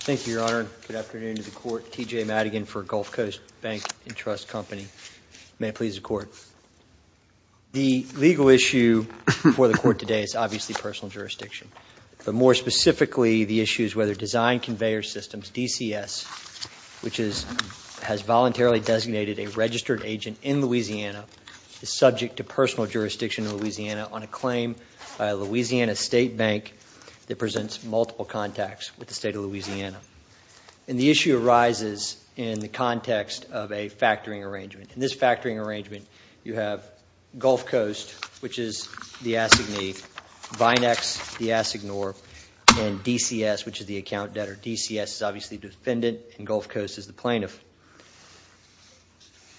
Thank you, Your Honor. Good afternoon to the Court. T.J. Madigan for Gulf Coast Bank & Trust Company. May it please the Court. The legal issue before the Court today is obviously personal jurisdiction. But more specifically, the issue is whether Designed Conveyor System, DCS, which has voluntarily designated a registered agent in Louisiana, is subject to personal jurisdiction in Louisiana on a claim by a Louisiana state bank that presents multiple contacts with the state of Louisiana. And the issue arises in the context of a factoring arrangement. In this factoring arrangement, you have Gulf Coast, which is the assignee, Vinex, the assignor, and DCS, which is the account debtor. DCS is obviously defendant and Gulf Coast is the plaintiff.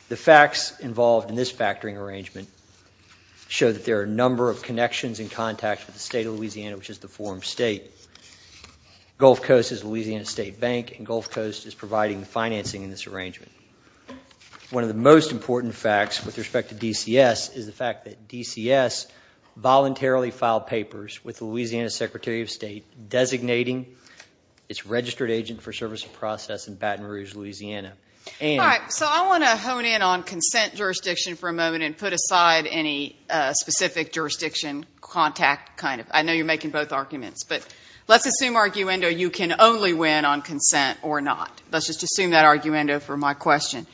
The facts involved in this factoring arrangement show that there are a number of connections and contacts with the state of Louisiana, which is the form state. Gulf Coast is a Louisiana state bank and Gulf Coast is providing financing in this arrangement. One of the most important facts with respect to DCS is the fact that DCS voluntarily filed papers with the Louisiana Secretary of State designating its registered agent for service of process in Baton Rouge, Louisiana. All right. So I want to hone in on consent jurisdiction for a moment and put aside any specific jurisdiction contact. I know you're making both arguments, but let's assume arguendo you can only win on consent or not. Let's just assume that arguendo for my question.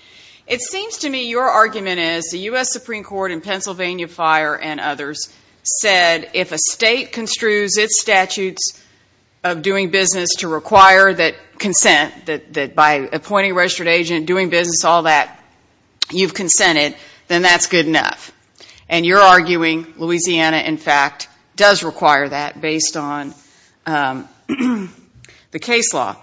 It seems to me your argument is the U.S. Supreme Court in Pennsylvania Fire and others said if a state construes its statutes of doing business to require that consent, that by appointing a registered agent, doing business, all that, you've consented, then that's good enough. And you're arguing Louisiana, in fact, does require that based on the case law.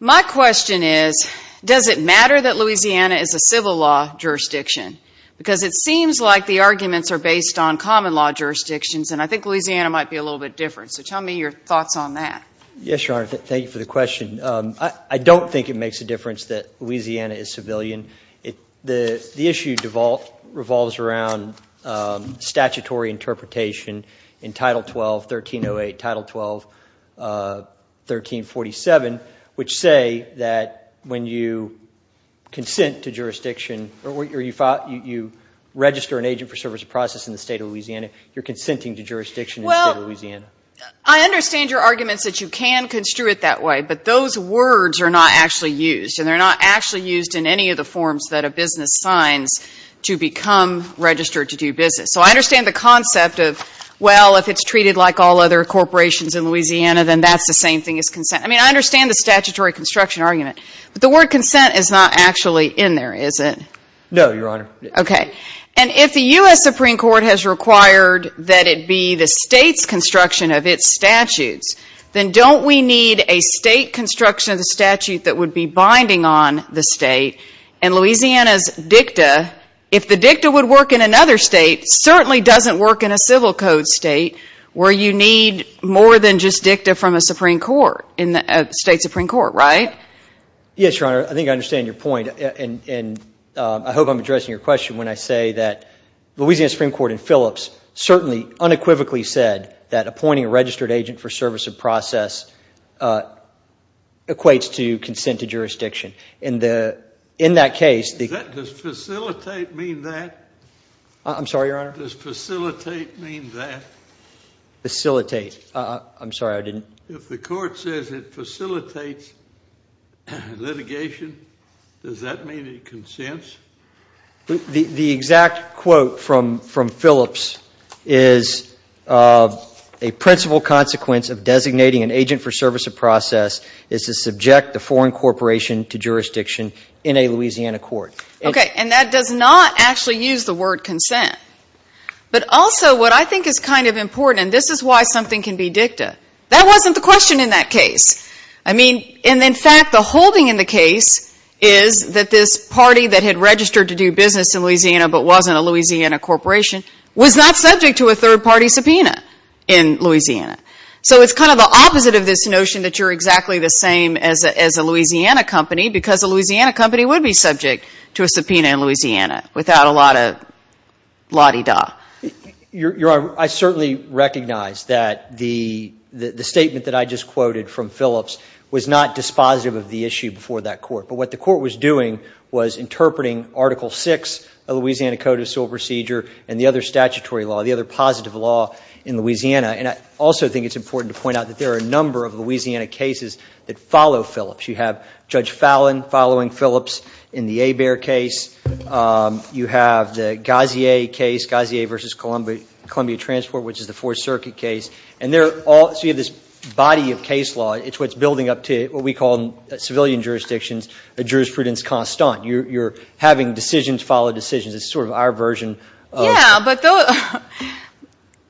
My question is, does it matter that Louisiana is a civil law jurisdiction? Because it seems like the arguments are based on common law jurisdictions, and I think Louisiana might be a little bit different. So tell me your thoughts on that. Yes, Your Honor. Thank you for the question. I don't think it makes a difference that Louisiana is civilian. The issue revolves around statutory interpretation in Title 12, 1308, Title 12, 1347, which say that when you consent to jurisdiction or you register a registered agent, you have to register an agent for service of process in the State of Louisiana. You're consenting to jurisdiction in the State of Louisiana. Well, I understand your arguments that you can construe it that way, but those words are not actually used, and they're not actually used in any of the forms that a business signs to become registered to do business. So I understand the concept of, well, if it's treated like all other corporations in Louisiana, then that's the same thing as consent. I mean, I understand the statutory construction argument, but the word consent is not actually in there, is it? No, Your Honor. Okay. And if the U.S. Supreme Court has required that it be the State's construction of its statutes, then don't we need a State construction of the statute that would be binding on the State? And Louisiana's dicta, if the dicta would work in another State, certainly doesn't work in a civil code State where you need more than just dicta from a Supreme Court, in a State Supreme Court, right? Yes, Your Honor. I think I understand your point, and I hope I'm addressing your question when I say that Louisiana Supreme Court in Phillips certainly unequivocally said that appointing a registered agent for service of process equates to consent to jurisdiction. In that case, the – Does facilitate mean that? I'm sorry, Your Honor? Does facilitate mean that? Facilitate. I'm sorry, I didn't – If the court says it facilitates litigation, does that mean it consents? The exact quote from Phillips is, a principal consequence of designating an agent for service of process is to subject the foreign corporation to jurisdiction in a Louisiana court. Okay. And that does not actually use the word consent. But also what I think is kind of a question in that case. I mean, and in fact, the holding in the case is that this party that had registered to do business in Louisiana but wasn't a Louisiana corporation was not subject to a third-party subpoena in Louisiana. So it's kind of the opposite of this notion that you're exactly the same as a Louisiana company because a Louisiana company would be subject to a subpoena in Louisiana without a lot of la-di-da. Your Honor, I certainly recognize that the statement that I just quoted from Phillips was not dispositive of the issue before that court. But what the court was doing was interpreting Article VI of the Louisiana Code of Civil Procedure and the other statutory law, the other positive law in Louisiana. And I also think it's important to point out that there are a number of Louisiana cases that follow Phillips. You have Judge Fallon following Phillips in the Hebert case. You have the Gazier case, Gazier v. Columbia Transport, which is the Fourth Circuit case. So you have this body of case law. It's what's building up to what we call in civilian jurisdictions a jurisprudence constant. You're having decisions follow decisions. It's sort of our version of the law.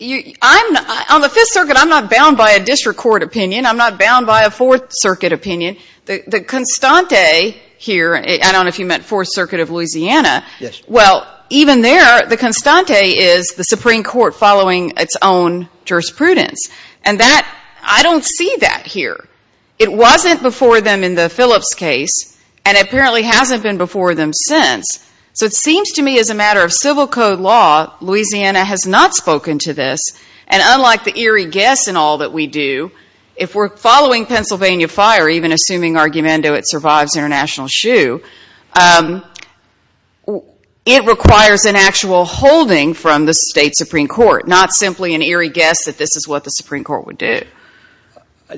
Yeah, but on the Fifth Circuit, I'm not bound by a district court opinion. I'm not bound by a Fourth Circuit opinion. The constante here, I don't know if you meant Fourth Circuit of Louisiana, well, even there, the constante is the Supreme Court following its own jurisprudence. And that, I don't see that here. It wasn't before them in the Phillips case, and apparently hasn't been before them since. So it seems to me as a matter of civil code law, Louisiana has not spoken to this. And unlike the eerie guess and all that we do, if we're following Pennsylvania Fire, even assuming argumento, it survives international shoe, it requires an actual holding from the state Supreme Court, not simply an eerie guess that this is what the Supreme Court would do.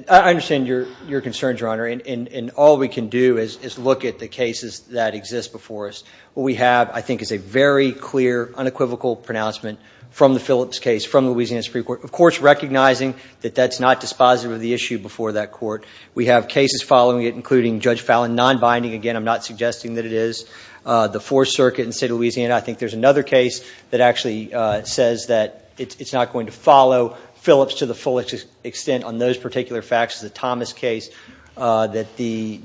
I understand your concerns, Your Honor. And all we can do is look at the cases that exist before us. What we have, I think, is a very clear, unequivocal pronouncement from the Phillips case, from the Louisiana Supreme Court, of course, recognizing that that's not dispositive of the issue before that court. We have cases following it, including Judge Fallon non-binding. Again, I'm not suggesting that it is. The Fourth Circuit in the state of Louisiana, I think there's another case that actually says that it's not going to follow Phillips to the fullest extent on those particular facts, the Thomas case that the Louisiana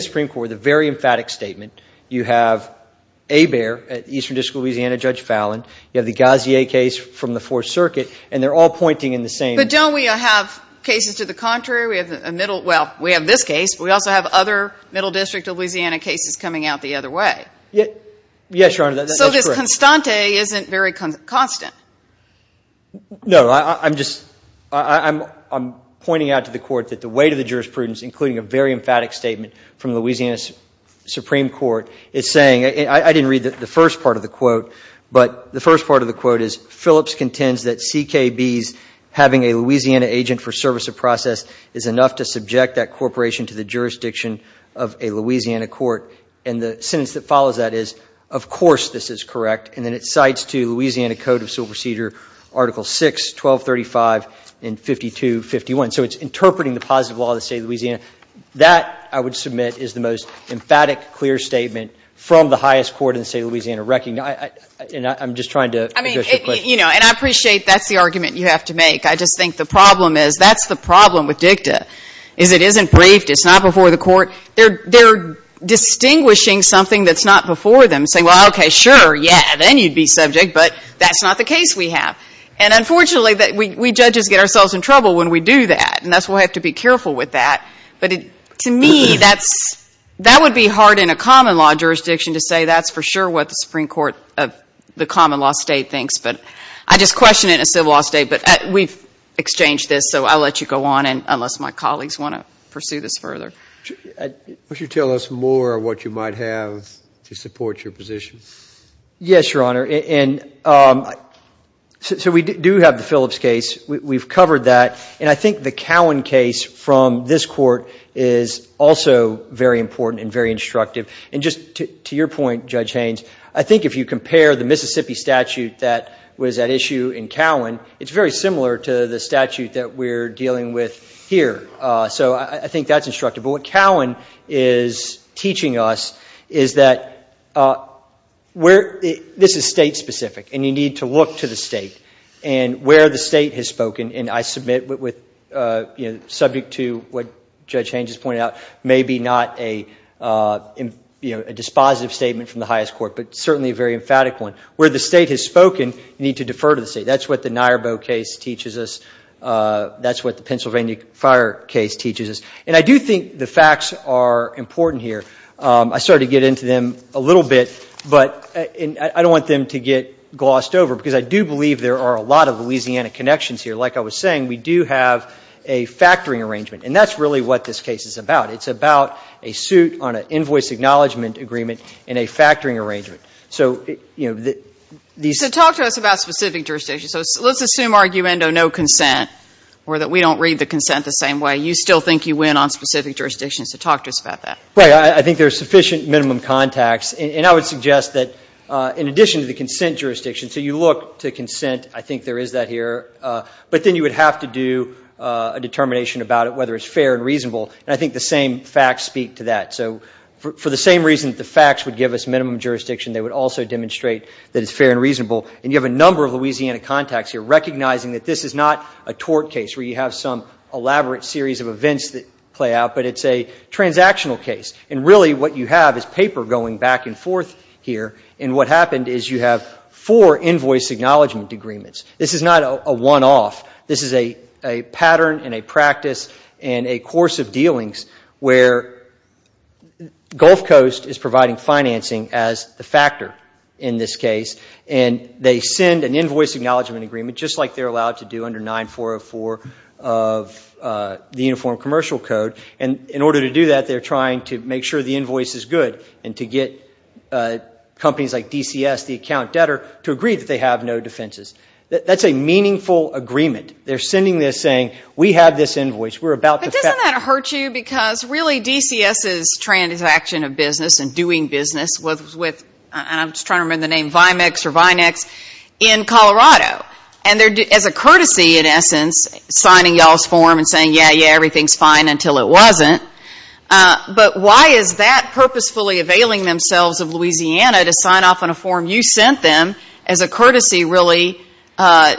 Supreme Court, the very emphatic statement, you have Hebert at the Eastern District of Louisiana, Judge Fallon. You have the Gauzier case from the Fourth Circuit, and they're all pointing in the same direction. But don't we have cases to the contrary? We have a middle, well, we have this case, but we also have other Middle District of Louisiana cases coming out the other way. Yes, Your Honor, that's correct. So this constante isn't very constant. No, I'm just, I'm pointing out to the court that the weight of the jurisprudence, including a very emphatic statement from the Louisiana Supreme Court, is saying, I didn't read the first part of the quote, but the first part of the quote is, Phillips contends that CKB's having a Louisiana agent for service of process is enough to subject that corporation to the jurisdiction of a Louisiana court. And the sentence that follows that is, of course this is correct. And then it cites to Louisiana Code of Civil Procedure Article 6, 1235 and 5251. So it's interpreting the That, I would submit, is the most emphatic, clear statement from the highest court in the state of Louisiana. And I'm just trying to address your question. I mean, you know, and I appreciate that's the argument you have to make. I just think the problem is, that's the problem with dicta, is it isn't briefed, it's not before the court. They're distinguishing something that's not before them, saying, well, okay, sure, yeah, then you'd be subject, but that's not the case we have. And unfortunately, we judges get ourselves in trouble when we do that, and that's why we have to be careful with that. But to me, that's, that would be hard in a common law jurisdiction to say that's for sure what the Supreme Court of the common law state thinks. But I just question it in a civil law state. But we've exchanged this, so I'll let you go on, unless my colleagues want to pursue this further. Would you tell us more of what you might have to support your position? Yes, Your Honor. And so we do have the Phillips case. We've covered that. And I think the Cowan case from this Court is also very important and very instructive. And just to your point, Judge Haynes, I think if you compare the Mississippi statute that was at issue in Cowan, it's very similar to the statute that we're dealing with here. So I think that's instructive. But what Cowan is teaching us is that where, this is state specific, and you need to look to the state, and where the state has spoken, and I submit with, subject to what Judge Haynes has pointed out, may be not a dispositive statement from the highest court, but certainly a very emphatic one. Where the state has spoken, you need to defer to the state. That's what the Nyarbo case teaches us. That's what the Pennsylvania Fire case teaches us. And I do think the facts are important here. I started to get into them a little bit, but I don't want them to get glossed over, because I do believe there are a lot of Louisiana connections here. Like I was saying, we do have a factoring arrangement. And that's really what this case is about. It's about a suit on an invoice acknowledgment agreement and a factoring arrangement. So, you know, these So talk to us about specific jurisdictions. So let's assume arguendo no consent, or that we don't read the consent the same way. You still think you win on specific jurisdictions. So talk to us about that. Right. I think there's sufficient minimum contacts. And I would suggest that in addition to the consent jurisdiction, so you look to consent, I think there is that here. But then you would have to do a determination about it, whether it's fair and reasonable. And I think the same facts speak to that. So for the same reason that the facts would give us minimum jurisdiction, they would also demonstrate that it's fair and reasonable. And you have a number of Louisiana contacts here, recognizing that this is not a tort case, where you have some elaborate series of events that play out, but it's a transactional case. And really what you have is paper going back and forth here. And what happened is you have four invoice acknowledgment agreements. This is not a one-off. This is a pattern and a practice and a course of dealings where Gulf Coast is providing financing as the factor in this case. And they send an invoice acknowledgment agreement, just like they're allowed to do under 9404 of the Uniform Commercial Code. And in order to do that, they're trying to make sure the invoice is good and to get companies like DCS, the account debtor, to agree that they have no defenses. That's a meaningful agreement. They're sending this saying, we have this invoice, we're about the fact that- But doesn't that hurt you? Because really DCS's transaction of business and doing business was with, and I'm just trying to remember the name, Vimex or Vinex, in Colorado. And as a courtesy, in essence, signing y'all's form and saying, yeah, yeah, everything's fine until it wasn't. But why is that purposefully availing themselves of Louisiana to sign off on a form you sent them as a courtesy really, I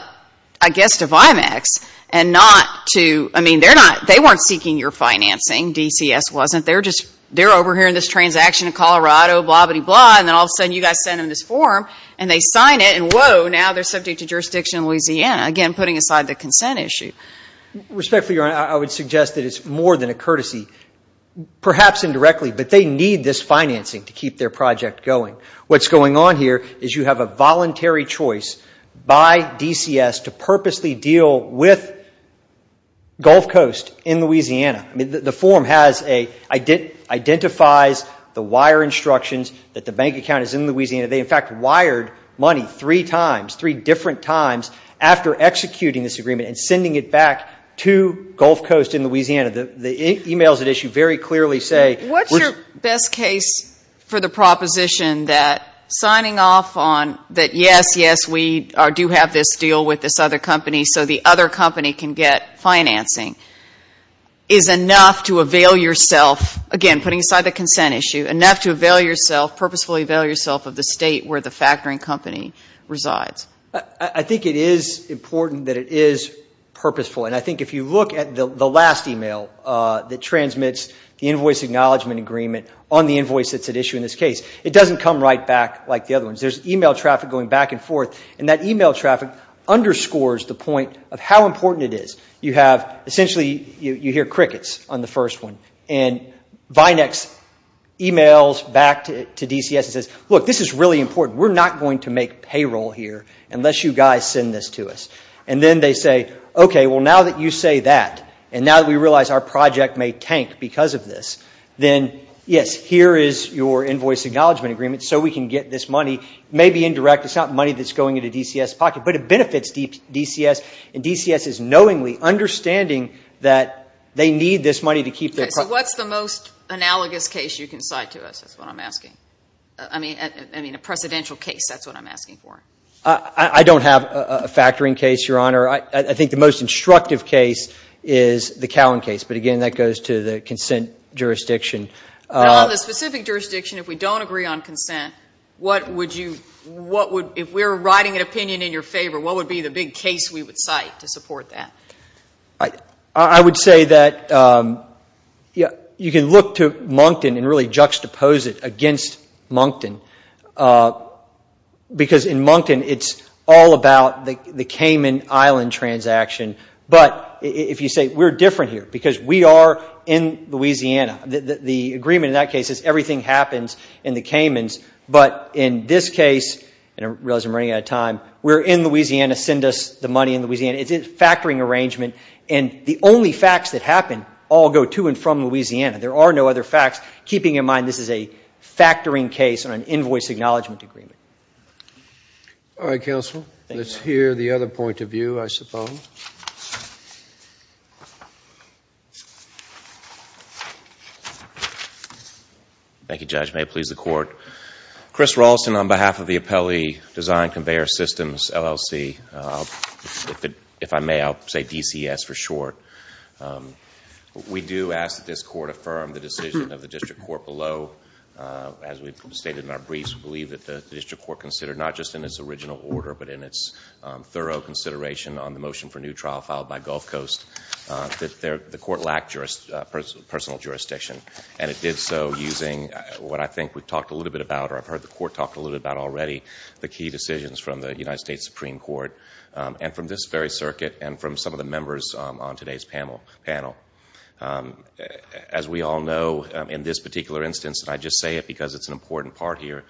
guess, to Vimex and not to, I mean, they weren't seeking your financing. DCS wasn't. They're just, they're overhearing this transaction in Colorado, blah, blah, blah. And then all of a sudden you guys send them this form and they sign it and, whoa, now they're subject to jurisdiction in Louisiana. Again, putting aside the consent issue. Respectfully, Your Honor, I would suggest that it's more than a courtesy, perhaps indirectly, but they need this financing to keep their project going. What's going on here is you have a voluntary choice by DCS to purposely deal with Gulf Coast in Louisiana. The form has a, identifies the wire instructions that the bank account is in Louisiana. They, in fact, wired money three times, three different times after executing this agreement and sending it back to Gulf Coast in Louisiana. The emails that issue very clearly say... What's your best case for the proposition that signing off on that, yes, yes, we do have this deal with this other company so the other company can get financing is enough to avail yourself, again, putting aside the consent issue, enough to avail yourself, purposefully avail yourself of the state where the factoring company resides. I think it is important that it is purposeful. And I think if you look at the last email that transmits the invoice acknowledgement agreement on the invoice that's at issue in this case, it doesn't come right back like the other ones. There's email traffic going back and forth. And that email traffic underscores the point of how important it is. You have, essentially, you hear crickets on the first one. And Vinex emails back to DCS and says, look, this is really important. We're not going to make payroll here unless you guys send this to us. And then they say, okay, well, now that you say that, and now that we realize our project may tank because of this, then, yes, here is your invoice acknowledgement agreement so we can get this money. It may be indirect. It's not money that's going into DCS' pocket. But it benefits DCS. And DCS is knowingly understanding that they need this money to keep their project. Okay. So what's the most analogous case you can cite to us? That's what I'm asking. I mean, a precedential case, that's what I'm asking for. I don't have a factoring case, Your Honor. I think the most instructive case is the Cowen case. But again, that goes to the consent jurisdiction. But on the specific jurisdiction, if we don't agree on consent, what would you, what would, if we're writing an opinion in your favor, what would be the big case we would cite to support that? I would say that you can look to Moncton and really juxtapose it against Moncton. Because in Moncton, it's all about the Cayman Island transaction. But if you say we're different here because we are in Louisiana, the agreement in that case is everything happens in the We're in Louisiana. Send us the money in Louisiana. It's a factoring arrangement. And the only facts that happen all go to and from Louisiana. There are no other facts. Keeping in mind, this is a factoring case on an invoice acknowledgment agreement. All right, counsel. Let's hear the other point of view, I suppose. Thank you, Judge. May it please the Court. Chris Raulston on behalf of the Appellee Design Conveyor Systems, LLC. If I may, I'll say DCS for short. We do ask that this Court affirm the decision of the District Court below as we've stated in our briefs. We believe that the District Court considered, not just in its original order, but in its thorough consideration on the motion for new trial filed by Gulf Coast, that the Court lacked personal jurisdiction. And it did so using what I think we've talked a little bit about, or I've heard the Court talk a little bit about already, the key decisions from the United States Supreme Court. And from this very circuit, and from some of the members on today's panel. As we all know, in this particular instance, and I just say it because it's an important part here,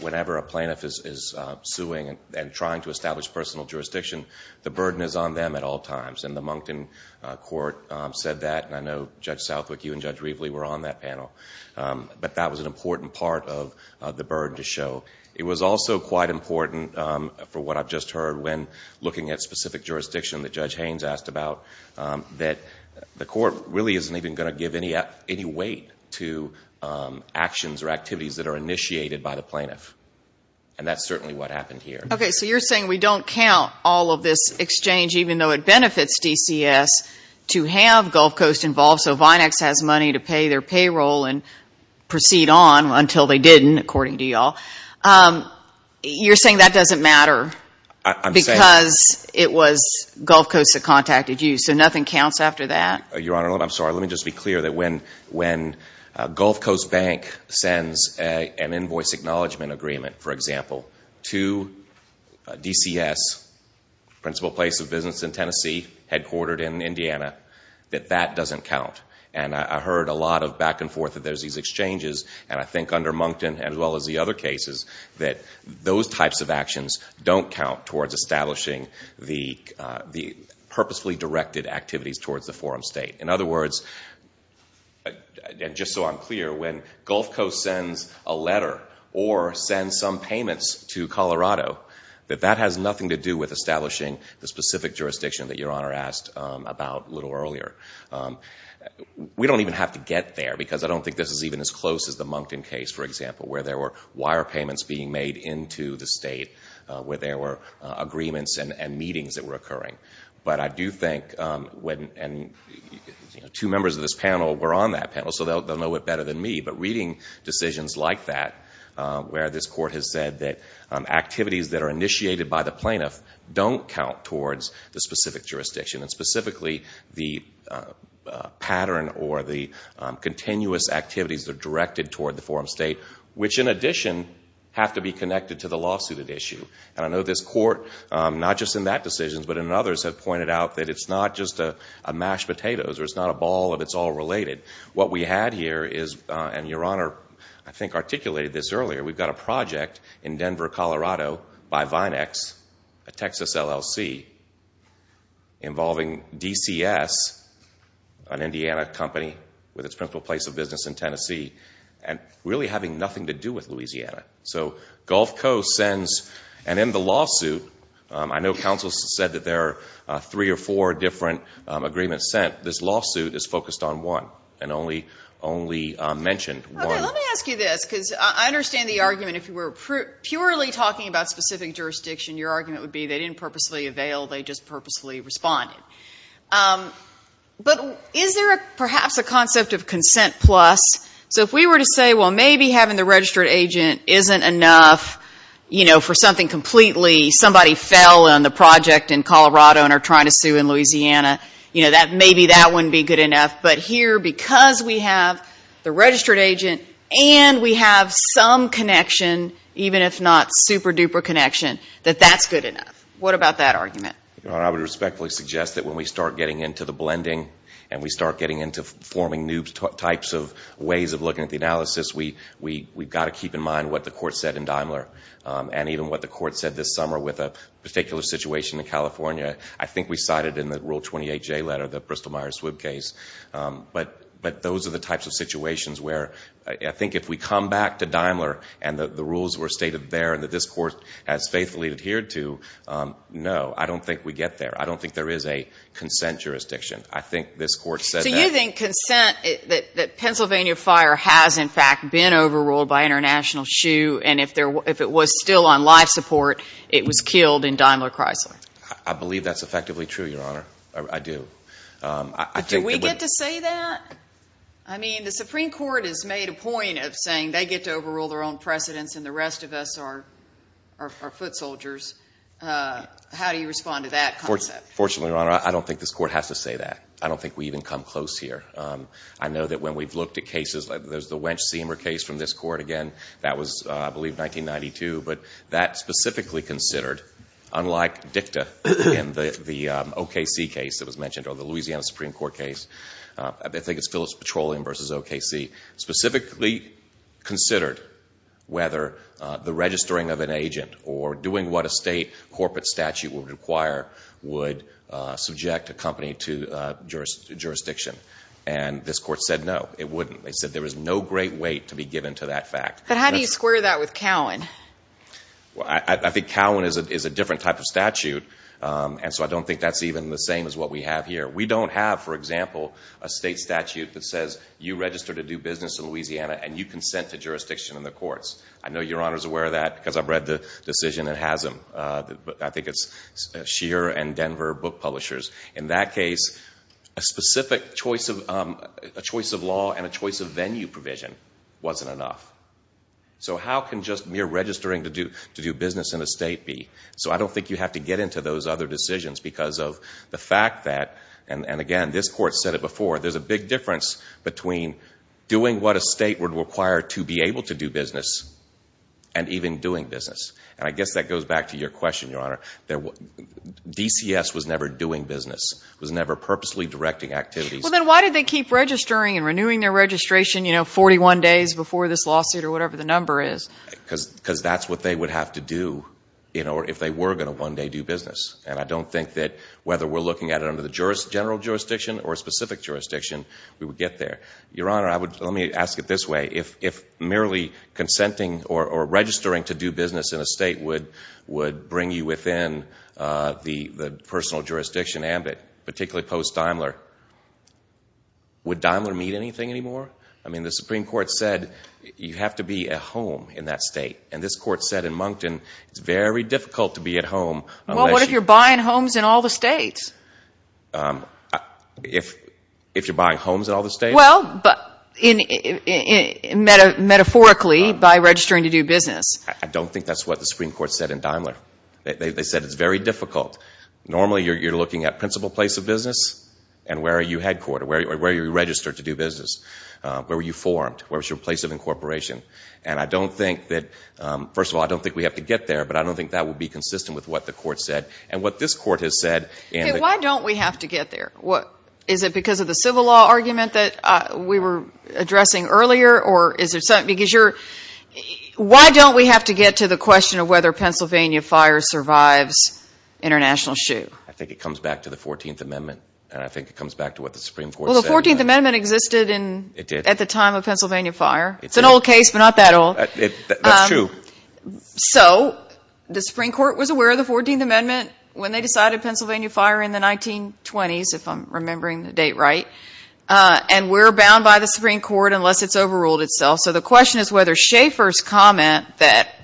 whenever a plaintiff is suing and trying to establish personal jurisdiction, the burden is on them at all times. And the Moncton Court said that, and I know Judge Southwick, you and Judge Rievele were on that panel. But that was an important part of the burden to show. It was also quite important, from what I've just heard, when looking at specific jurisdiction that Judge Haynes asked about, that the Court really isn't even going to give any weight to actions or activities that are initiated by the plaintiff. And that's certainly what happened here. Okay. So you're saying we don't count all of this exchange, even though it benefits DCS, to have Gulf Coast involved, so Vinex has money to pay their payroll and proceed on until they didn't, according to you all. You're saying that doesn't matter because it was Gulf Coast that contacted you. So nothing counts after that? Your Honor, I'm sorry. Let me just be clear that when Gulf Coast Bank sends an invoice acknowledgement agreement, for example, to DCS, the principal place of business in Tennessee, headquartered in Indiana, that that doesn't count. And I heard a lot of back and forth that there's these exchanges, and I think under Moncton, as well as the other cases, that those types of actions don't count towards establishing the purposefully directed activities towards the forum state. In other words, and just so I'm clear, when Gulf Coast sends a or sends some payments to Colorado, that that has nothing to do with establishing the specific jurisdiction that Your Honor asked about a little earlier. We don't even have to get there, because I don't think this is even as close as the Moncton case, for example, where there were wire payments being made into the state, where there were agreements and meetings that were occurring. But I do think, and two members of this panel were on that panel, so they'll know it better than me, but reading decisions like that, where this Court has said that activities that are initiated by the plaintiff don't count towards the specific jurisdiction, and specifically the pattern or the continuous activities that are directed toward the forum state, which in addition have to be connected to the lawsuit at issue. And I know this Court, not just in that decision, but in others, have pointed out that it's not just a mashed potatoes, or it's not a ball of it's all related. What we had here is, and Your Honor, I think, articulated this earlier, we've got a project in Denver, Colorado, by Vinex, a Texas LLC, involving DCS, an Indiana company with its principal place of business in Tennessee, and really having nothing to do with Louisiana. So Gulf Coast sends, and in the lawsuit, I know counsel said that there are three or four different agreements sent. This lawsuit is focused on one, and only mentioned one. Let me ask you this, because I understand the argument, if you were purely talking about specific jurisdiction, your argument would be they didn't purposely avail, they just purposely responded. But is there perhaps a concept of consent plus? So if we were to say, well, maybe having the registered agent isn't enough, you know, for something completely, somebody fell on the project in Colorado and are trying to sue in Louisiana, you know, maybe that wouldn't be good enough. But here, because we have the registered agent, and we have some connection, even if not super duper connection, that that's good enough. What about that argument? Your Honor, I would respectfully suggest that when we start getting into the blending, and we start getting into forming new types of ways of looking at the analysis, we've got to keep in mind what the Court said in Daimler, and even what the Court said this summer with a particular situation in California. I think we cited in the Rule 28J letter, the Bristol-Myers-Swibb case. But those are the types of situations where I think if we come back to Daimler, and the rules were stated there, and that this Court has faithfully adhered to, no, I don't think we get there. I don't think there is a consent jurisdiction. I think this Court said that. So you think consent, that Pennsylvania fire has in fact been overruled by International Shoe, and if it was still on life support, it was killed in Daimler-Chrysler? I believe that's effectively true, Your Honor. I do. But do we get to say that? I mean, the Supreme Court has made a point of saying they get to overrule their own precedents, and the rest of us are foot soldiers. How do you respond to that concept? Fortunately, Your Honor, I don't think this Court has to say that. I don't think we even come close here. I know that when we've looked at cases, like there's the Wench-Seamer case from this Court, again, that was, I believe, 1992. But that specifically considered, unlike DICTA and the OKC case that was mentioned, or the Louisiana Supreme Court case, I think it's Phillips-Petroleum v. OKC, specifically considered whether the registering of an agent or doing what a state corporate statute would require would subject a company to jurisdiction. And this Court said no, it wouldn't. They said there was no great weight to be given to that fact. But how do you square that with Cowan? I think Cowan is a different type of statute, and so I don't think that's even the same as what we have here. We don't have, for example, a state statute that says you register to do business in Louisiana and you consent to jurisdiction in the courts. I know Your Honor is aware of that because I've read the decision that has them. I think it's Scheer and Denver Book Publishers. In that case, a specific choice of law and a choice of venue provision wasn't enough. So how can just mere registering to do business in a state be? So I don't think you have to get into those other decisions because of the fact that, and again, this Court said it before, there's a big difference between doing what a state would require to be able to do business and even doing business. And I guess that goes back to your question, Your Honor. DCS was never doing business. It was never purposely directing activities. Well, then why did they keep registering and renewing their registration, you know, 41 days before this lawsuit or whatever the number is? Because that's what they would have to do, you know, if they were going to one day do business. And I don't think that whether we're looking at it under the general jurisdiction or a specific jurisdiction, we would get there. Your Honor, let me ask it this way. If merely consenting or registering to do business in a state would bring you within the personal jurisdiction ambit, particularly post-Daimler, would Daimler meet anything anymore? I mean, the Supreme Court said you have to be at home in that state. And this Court said in Moncton, it's very difficult to be at home unless you're buying homes in all the states. If you're buying homes in all the states? Well, metaphorically, by registering to do business. I don't think that's what the Supreme Court said in Daimler. They said it's very difficult. Normally, you're looking at principal place of business and where are you headquartered, where are you registered to do business, where were you formed, where was your place of incorporation. And I don't think that, first of all, I don't think we have to get there, but I don't think that would be consistent with what the Court said. And what this Court has said in the Supreme Court, why don't we have to get there? Is it because of the civil law argument that we were addressing earlier? Why don't we have to get to the question of whether Pennsylvania fire survives international shoot? I think it comes back to the 14th Amendment and I think it comes back to what the Supreme Court said. Well, the 14th Amendment existed at the time of Pennsylvania fire. It's an old case, but not that old. That's true. So the Supreme Court was aware of the 14th Amendment when they decided Pennsylvania fire in the 1920s, if I'm remembering the date right. And we're bound by the Supreme Court unless it's overruled itself. So the question is whether Schaeffer's comment that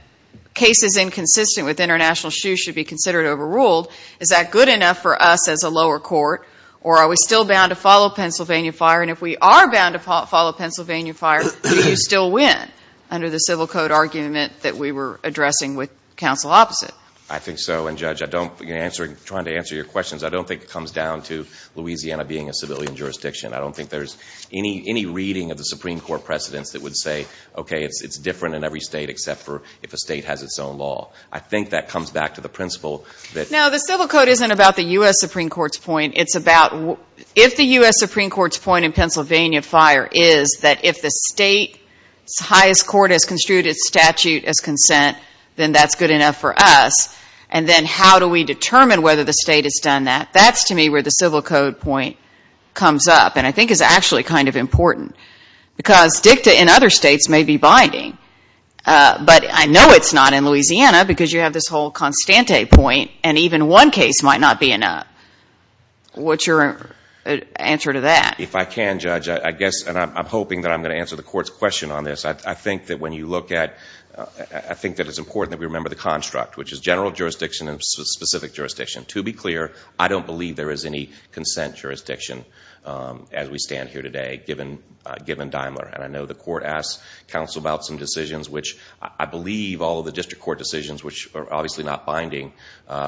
cases inconsistent with international shoot should be considered overruled, is that good enough for us as a lower court? Or are we still bound to follow Pennsylvania fire? And if we are bound to follow Pennsylvania fire, do you still win under the civil code argument that we were addressing with counsel opposite? I think so. And Judge, I don't, you're answering, trying to answer your questions. I don't think it comes down to Louisiana being a civilian jurisdiction. I don't think there's any reading of the Supreme Court precedents that would say, okay, it's different in every state except for if a state has its own law. I think that comes back to the principle that Now the civil code isn't about the U.S. Supreme Court's point. It's about if the U.S. Supreme Court's point in Pennsylvania fire is that if the state's highest court has construed its statute as consent, then that's good enough for us. And then how do we determine whether the state has done that? That's, to me, where the civil code point comes up and I think is actually kind of important. Because dicta in other states may be binding. But I know it's not in Louisiana because you have this whole Constante point and even one case might not be enough. What's your answer to that? If I can, Judge, I guess, and I'm hoping that I'm going to answer the court's question on this, I think that when you look at, I think that it's important that we remember the construct, which is general jurisdiction and specific jurisdiction. To be clear, I don't believe there is any consent jurisdiction as we stand here today, given Daimler. And I know the court asked counsel about some decisions, which I believe all of the district court decisions, which are obviously not binding,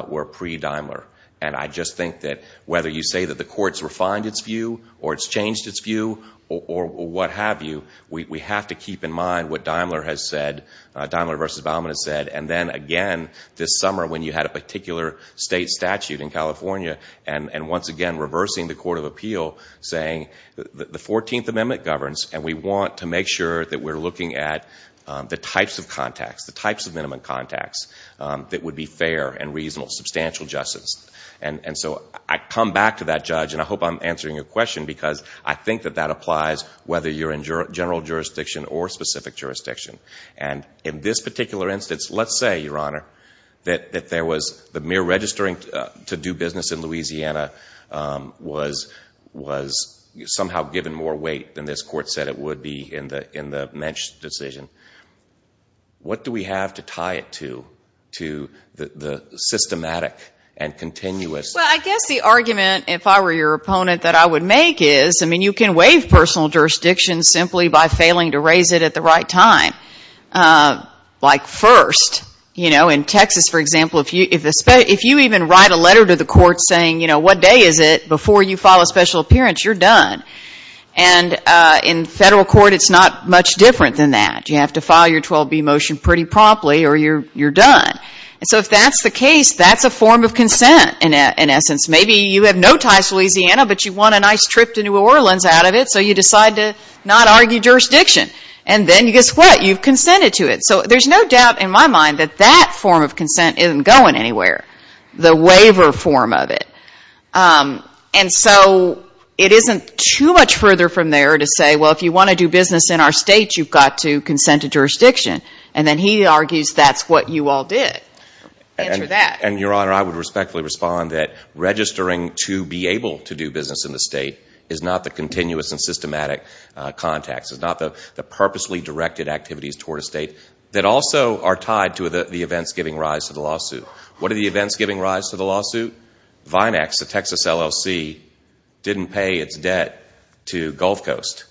were pre-Daimler. And I just think that whether you say that the court's refined its view or it's changed its view or what have you, we have to keep in mind what Daimler versus Baumann has said. And then, again, this summer when you had a particular state statute in California and, once again, reversing the Court of Appeal, saying the 14th Amendment governs and we want to make sure that we're looking at the types of contacts, the types of minimum contacts that would be fair and reasonable, substantial justice. And so I come back to that, Judge, and I hope I'm answering your question, because I think that that applies whether you're in general jurisdiction or specific jurisdiction. And in this particular instance, let's say, Your Honor, that there was the mere registering to do business in Louisiana was somehow given more weight than this Court said it would be in the Mensch decision. What do we have to tie it to, to the systematic and continuous? Well, I guess the argument, if I were your opponent, that I would make is, I mean, you can waive personal jurisdiction simply by failing to raise it at the right time, like first. You know, in Texas, for example, if you even write a letter to the court saying, you know, what day is it before you file a special appearance, you're done. And in federal court, it's not much different than that. You have to file your 12B motion pretty promptly or you're done. And so if that's the case, that's a form of consent, in essence. Maybe you have no ties to Louisiana, but you want a nice trip to New Orleans out of it, so you decide to not argue jurisdiction. And then guess what? You've consented to it. So there's no doubt in my mind that that form of consent isn't going anywhere, the waiver form of it. And so it isn't too much further from there to say, well, if you want to do business in our state, you've got to consent to jurisdiction. And then he argues that's what you all did. Answer that. And Your Honor, I would respectfully respond that registering to be able to do business in the state is not the continuous and systematic context. It's not the purposely directed activities toward a state that also are tied to the events giving rise to the lawsuit. What are the events giving rise to the lawsuit? Vimex, the Texas LLC, didn't pay its debt to Gulf Coast.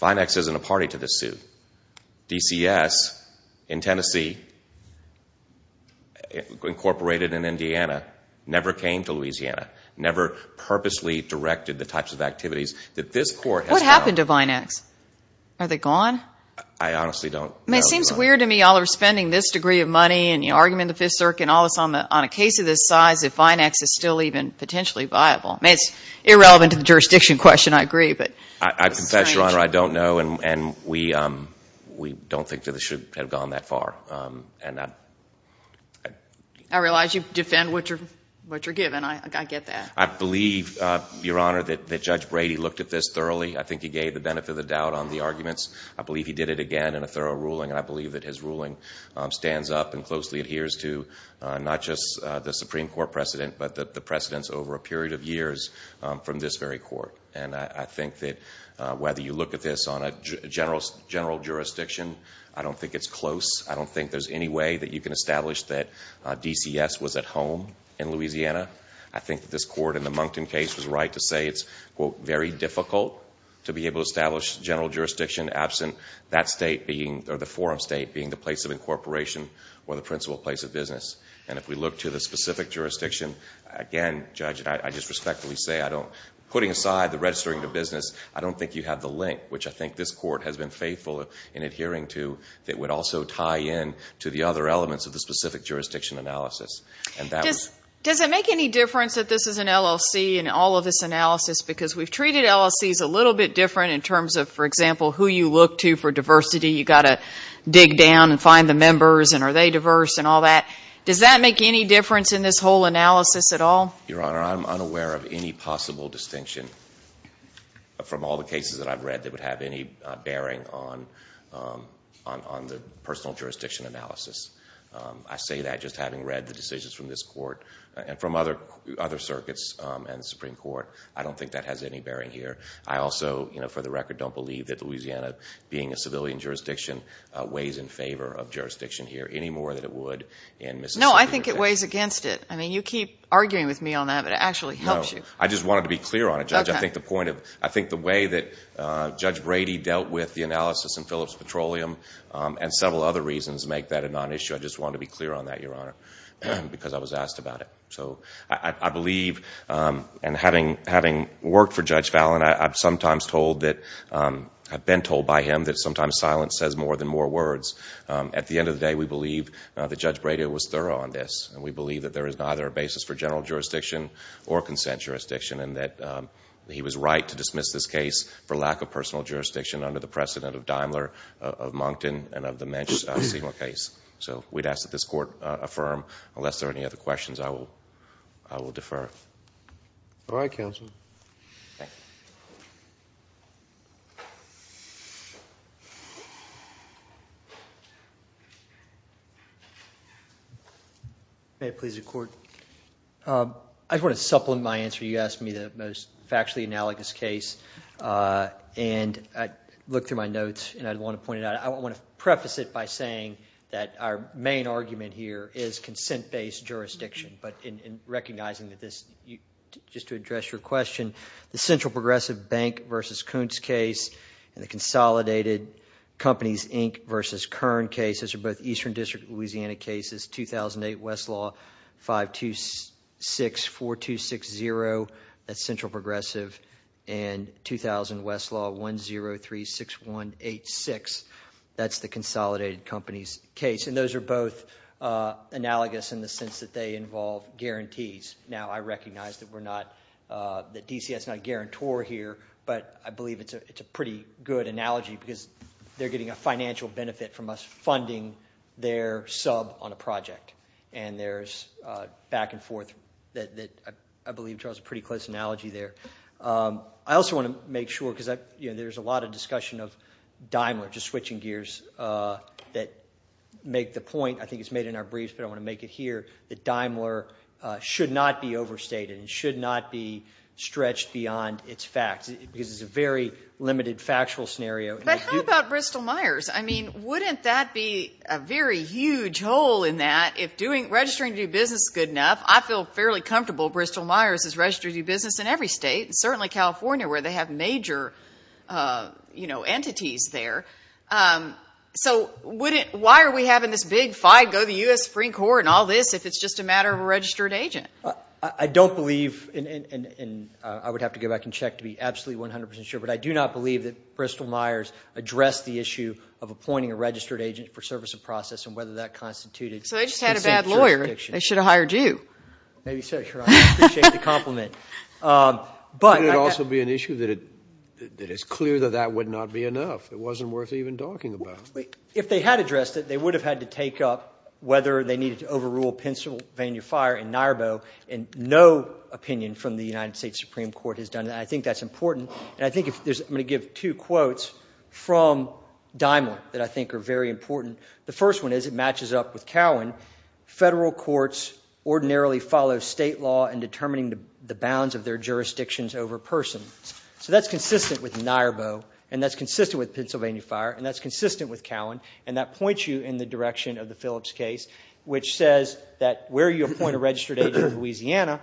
Vimex isn't a party to this suit. DCS in Tennessee, incorporated in Indiana, never came to Louisiana, never purposely directed the types of activities that this court has found. What happened to Vimex? Are they gone? I honestly don't know. It seems weird to me. You all are spending this degree of money, and you argument in the Fifth Circuit, and all this on a case of this size, if Vimex is still even potentially viable. It's irrelevant to the jurisdiction question, I agree, but it's strange. I confess, Your Honor, I don't know, and we don't think that this should have gone that far. I realize you defend what you're given. I get that. I believe, Your Honor, that Judge Brady looked at this thoroughly. I think he gave the benefit of the doubt on the arguments. I believe he did it again in a thorough ruling, and I believe that his ruling stands up and closely adheres to, not just the Supreme Court precedent, but the precedents over a period of years from this very court. I think that whether you look at this on a general jurisdiction, I don't think it's close. I don't think there's any way that you can establish that DCS was at home in Louisiana. I think that this court in the Moncton case was right to say it's, quote, very difficult to be able to establish general jurisdiction absent that state being, or the forum state being the place of incorporation, or the principal place of business. If we look to the specific jurisdiction, again, Judge, I just respectfully say, putting aside the registering the business, I don't think you have the link, which I think this court has been faithful in adhering to, that would also tie in to the other elements of the specific jurisdiction analysis. Does it make any difference that this is an LLC in all of this analysis? Because we've treated LLCs a little bit different in terms of, for example, who you look to for diversity. You've got to dig down and find the members, and are they diverse, and all that. Does that make any difference in this whole analysis at all? Your Honor, I'm unaware of any possible distinction from all the cases that I've read that would have any bearing on the personal jurisdiction analysis. I say that just having read the decisions from this court, and from other circuits and the Supreme Court. I don't think that has any bearing here. I also, for the record, don't believe that Louisiana, being a civilian jurisdiction, weighs in favor of jurisdiction here any more than it would in Mississippi. No, I think it weighs against it. You keep arguing with me on that, but it actually helps you. I just wanted to be clear on it, Judge. I think the way that Judge Brady dealt with the analysis in Phillips Petroleum, and several other reasons make that a non-issue. I just wanted to be clear on that, Your Honor, because I was asked about it. I believe, and having worked for Judge Fallin, I've been told by him that sometimes silence says more than more words. At the end of the day, we believe that Judge Brady was thorough on this, and we believe that there is neither a basis for general jurisdiction or consent jurisdiction, and that he was right to dismiss this case for lack of personal jurisdiction under the precedent of Daimler, of Moncton, and of the Mensch, a similar case. We'd ask that this court affirm. Unless there are any other questions, I will defer. All right, counsel. Thank you. May it please the court. I just want to supplement my answer. You asked me the most factually analogous case, and I looked through my notes, and I want to preface it by saying that our main argument here is consent-based jurisdiction, but in recognizing that this, just to address your question, the Central Progressive Bank versus Kuntz case, and the Consolidated Companies, Inc. versus Kern cases are both Eastern District Louisiana cases, 2008 Westlaw 5264260, that's Central Progressive, and 2000 Westlaw 1036186, that's the Consolidated Companies case, and those are both analogous in the sense that they involve guarantees. Now I recognize that DCS is not a guarantor here, but I believe it's a pretty good analogy because they're getting a financial benefit from us funding their sub on a project, and there's back and forth that I believe draws a pretty close analogy there. I also want to make sure, because there's a lot of discussion of Daimler, just switching gears that make the point, I think it's made in our briefs, but I want to make it here, that Daimler should not be overstated, should not be stretched beyond its facts, because it's a very limited factual scenario. But how about Bristol-Myers? I mean, wouldn't that be a very huge hole in that if doing, registering to do business is good enough? I feel fairly comfortable Bristol-Myers is registered to do business in every state, and certainly California, where they have major entities there. So why are we having this big fight, go to the U.S. Supreme Court and all this, if it's just a matter of a registered agent? I don't believe, and I would have to go back and check to be absolutely 100% sure, but I do not believe that Bristol-Myers addressed the issue of appointing a registered agent for service of process and whether that constituted consensual eviction. So they just had a bad lawyer. They should have hired you. Maybe so. I appreciate the compliment. Could it also be an issue that it's clear that that would not be enough, it wasn't worth even talking about? If they had addressed it, they would have had to take up whether they needed to overrule Pennsylvania Fire in Nairbo, and no opinion from the United States Supreme Court has done that. I think that's important, and I think if there's, I'm going to give two quotes from Daimler that I think are very important. The first one is, it matches up with Cowan. Federal courts ordinarily follow state law in determining the bounds of their jurisdictions over persons. So that's consistent with Nairbo, and that's consistent with Pennsylvania Fire, and that's consistent with Cowan, and that points you in the direction of the Phillips case, which says that where you appoint a registered agent in Louisiana,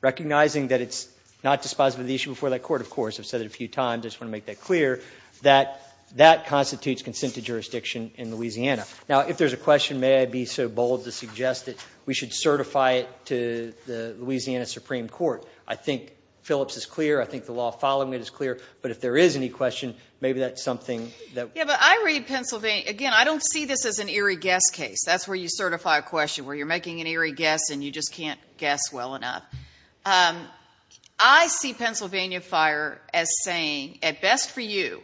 recognizing that it's not dispositive of the issue before that court, of course, I've said it a few times, I just want to make that clear, that that constitutes consent to jurisdiction in Louisiana. Now, if there's a question, may I be so bold to suggest that we should certify it to the Louisiana Supreme Court? I think Phillips is clear, I think the law following it is clear, but if there is any question, maybe that's something that... Yeah, but I read Pennsylvania, again, I don't see this as an eerie guess case. That's where you certify a question, where you're making an eerie guess and you just can't guess well enough. I see Pennsylvania Fire as saying, at best for you,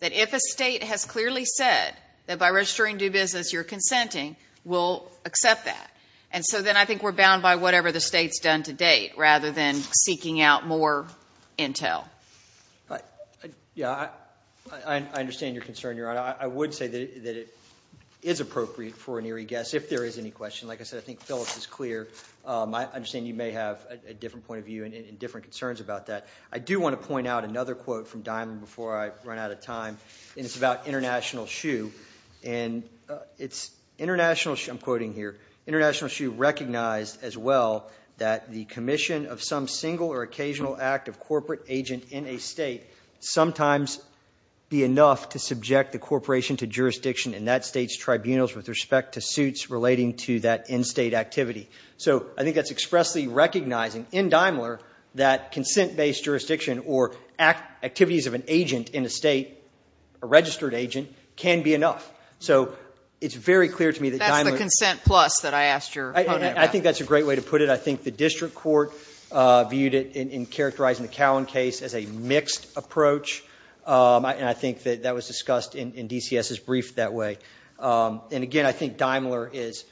that if a state has clearly said that by registering due business, you're consenting, we'll accept that. And so then I think we're bound by whatever the state's done to date, rather than seeking out more intel. Yeah, I understand your concern, Your Honor. I would say that it is appropriate for an eerie guess, if there is any question. Like I said, I think Phillips is clear. I understand you may have a different point of view and different concerns about that. I do want to point out another quote from Dimon before I run out of time, and it's about International Shoe, and it's, I'm quoting here, International Shoe recognized, as well, that the commission of some single or occasional act of corporate agent in a state sometimes be enough to subject the corporation to jurisdiction in that state's tribunals with respect to suits relating to that in-state activity. So I think that's expressly recognizing, in Daimler, that consent-based jurisdiction, or activities of an agent in a state, a registered agent, can be enough. So it's very clear to me that Daimler- That's the consent plus that I asked your comment about. I think that's a great way to put it. I think the district court viewed it in characterizing the Cowan case as a mixed approach, and I think that that was discussed in DCS's brief that way. And again, I think Daimler is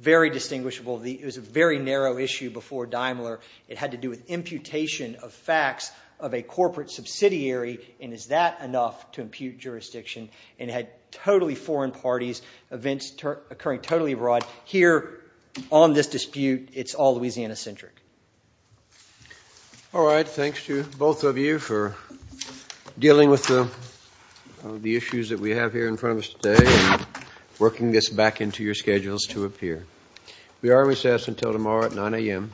very distinguishable. It was a very narrow issue before Daimler. It had to do with imputation of facts of a corporate subsidiary, and is that enough to impute jurisdiction? And it had totally foreign parties, events occurring totally abroad. Here, on this dispute, it's all Louisiana-centric. All right, thanks to both of you for dealing with the issues that we have here in front of us today, and working this back into your schedules to appear. We are recessed until tomorrow at 9 a.m.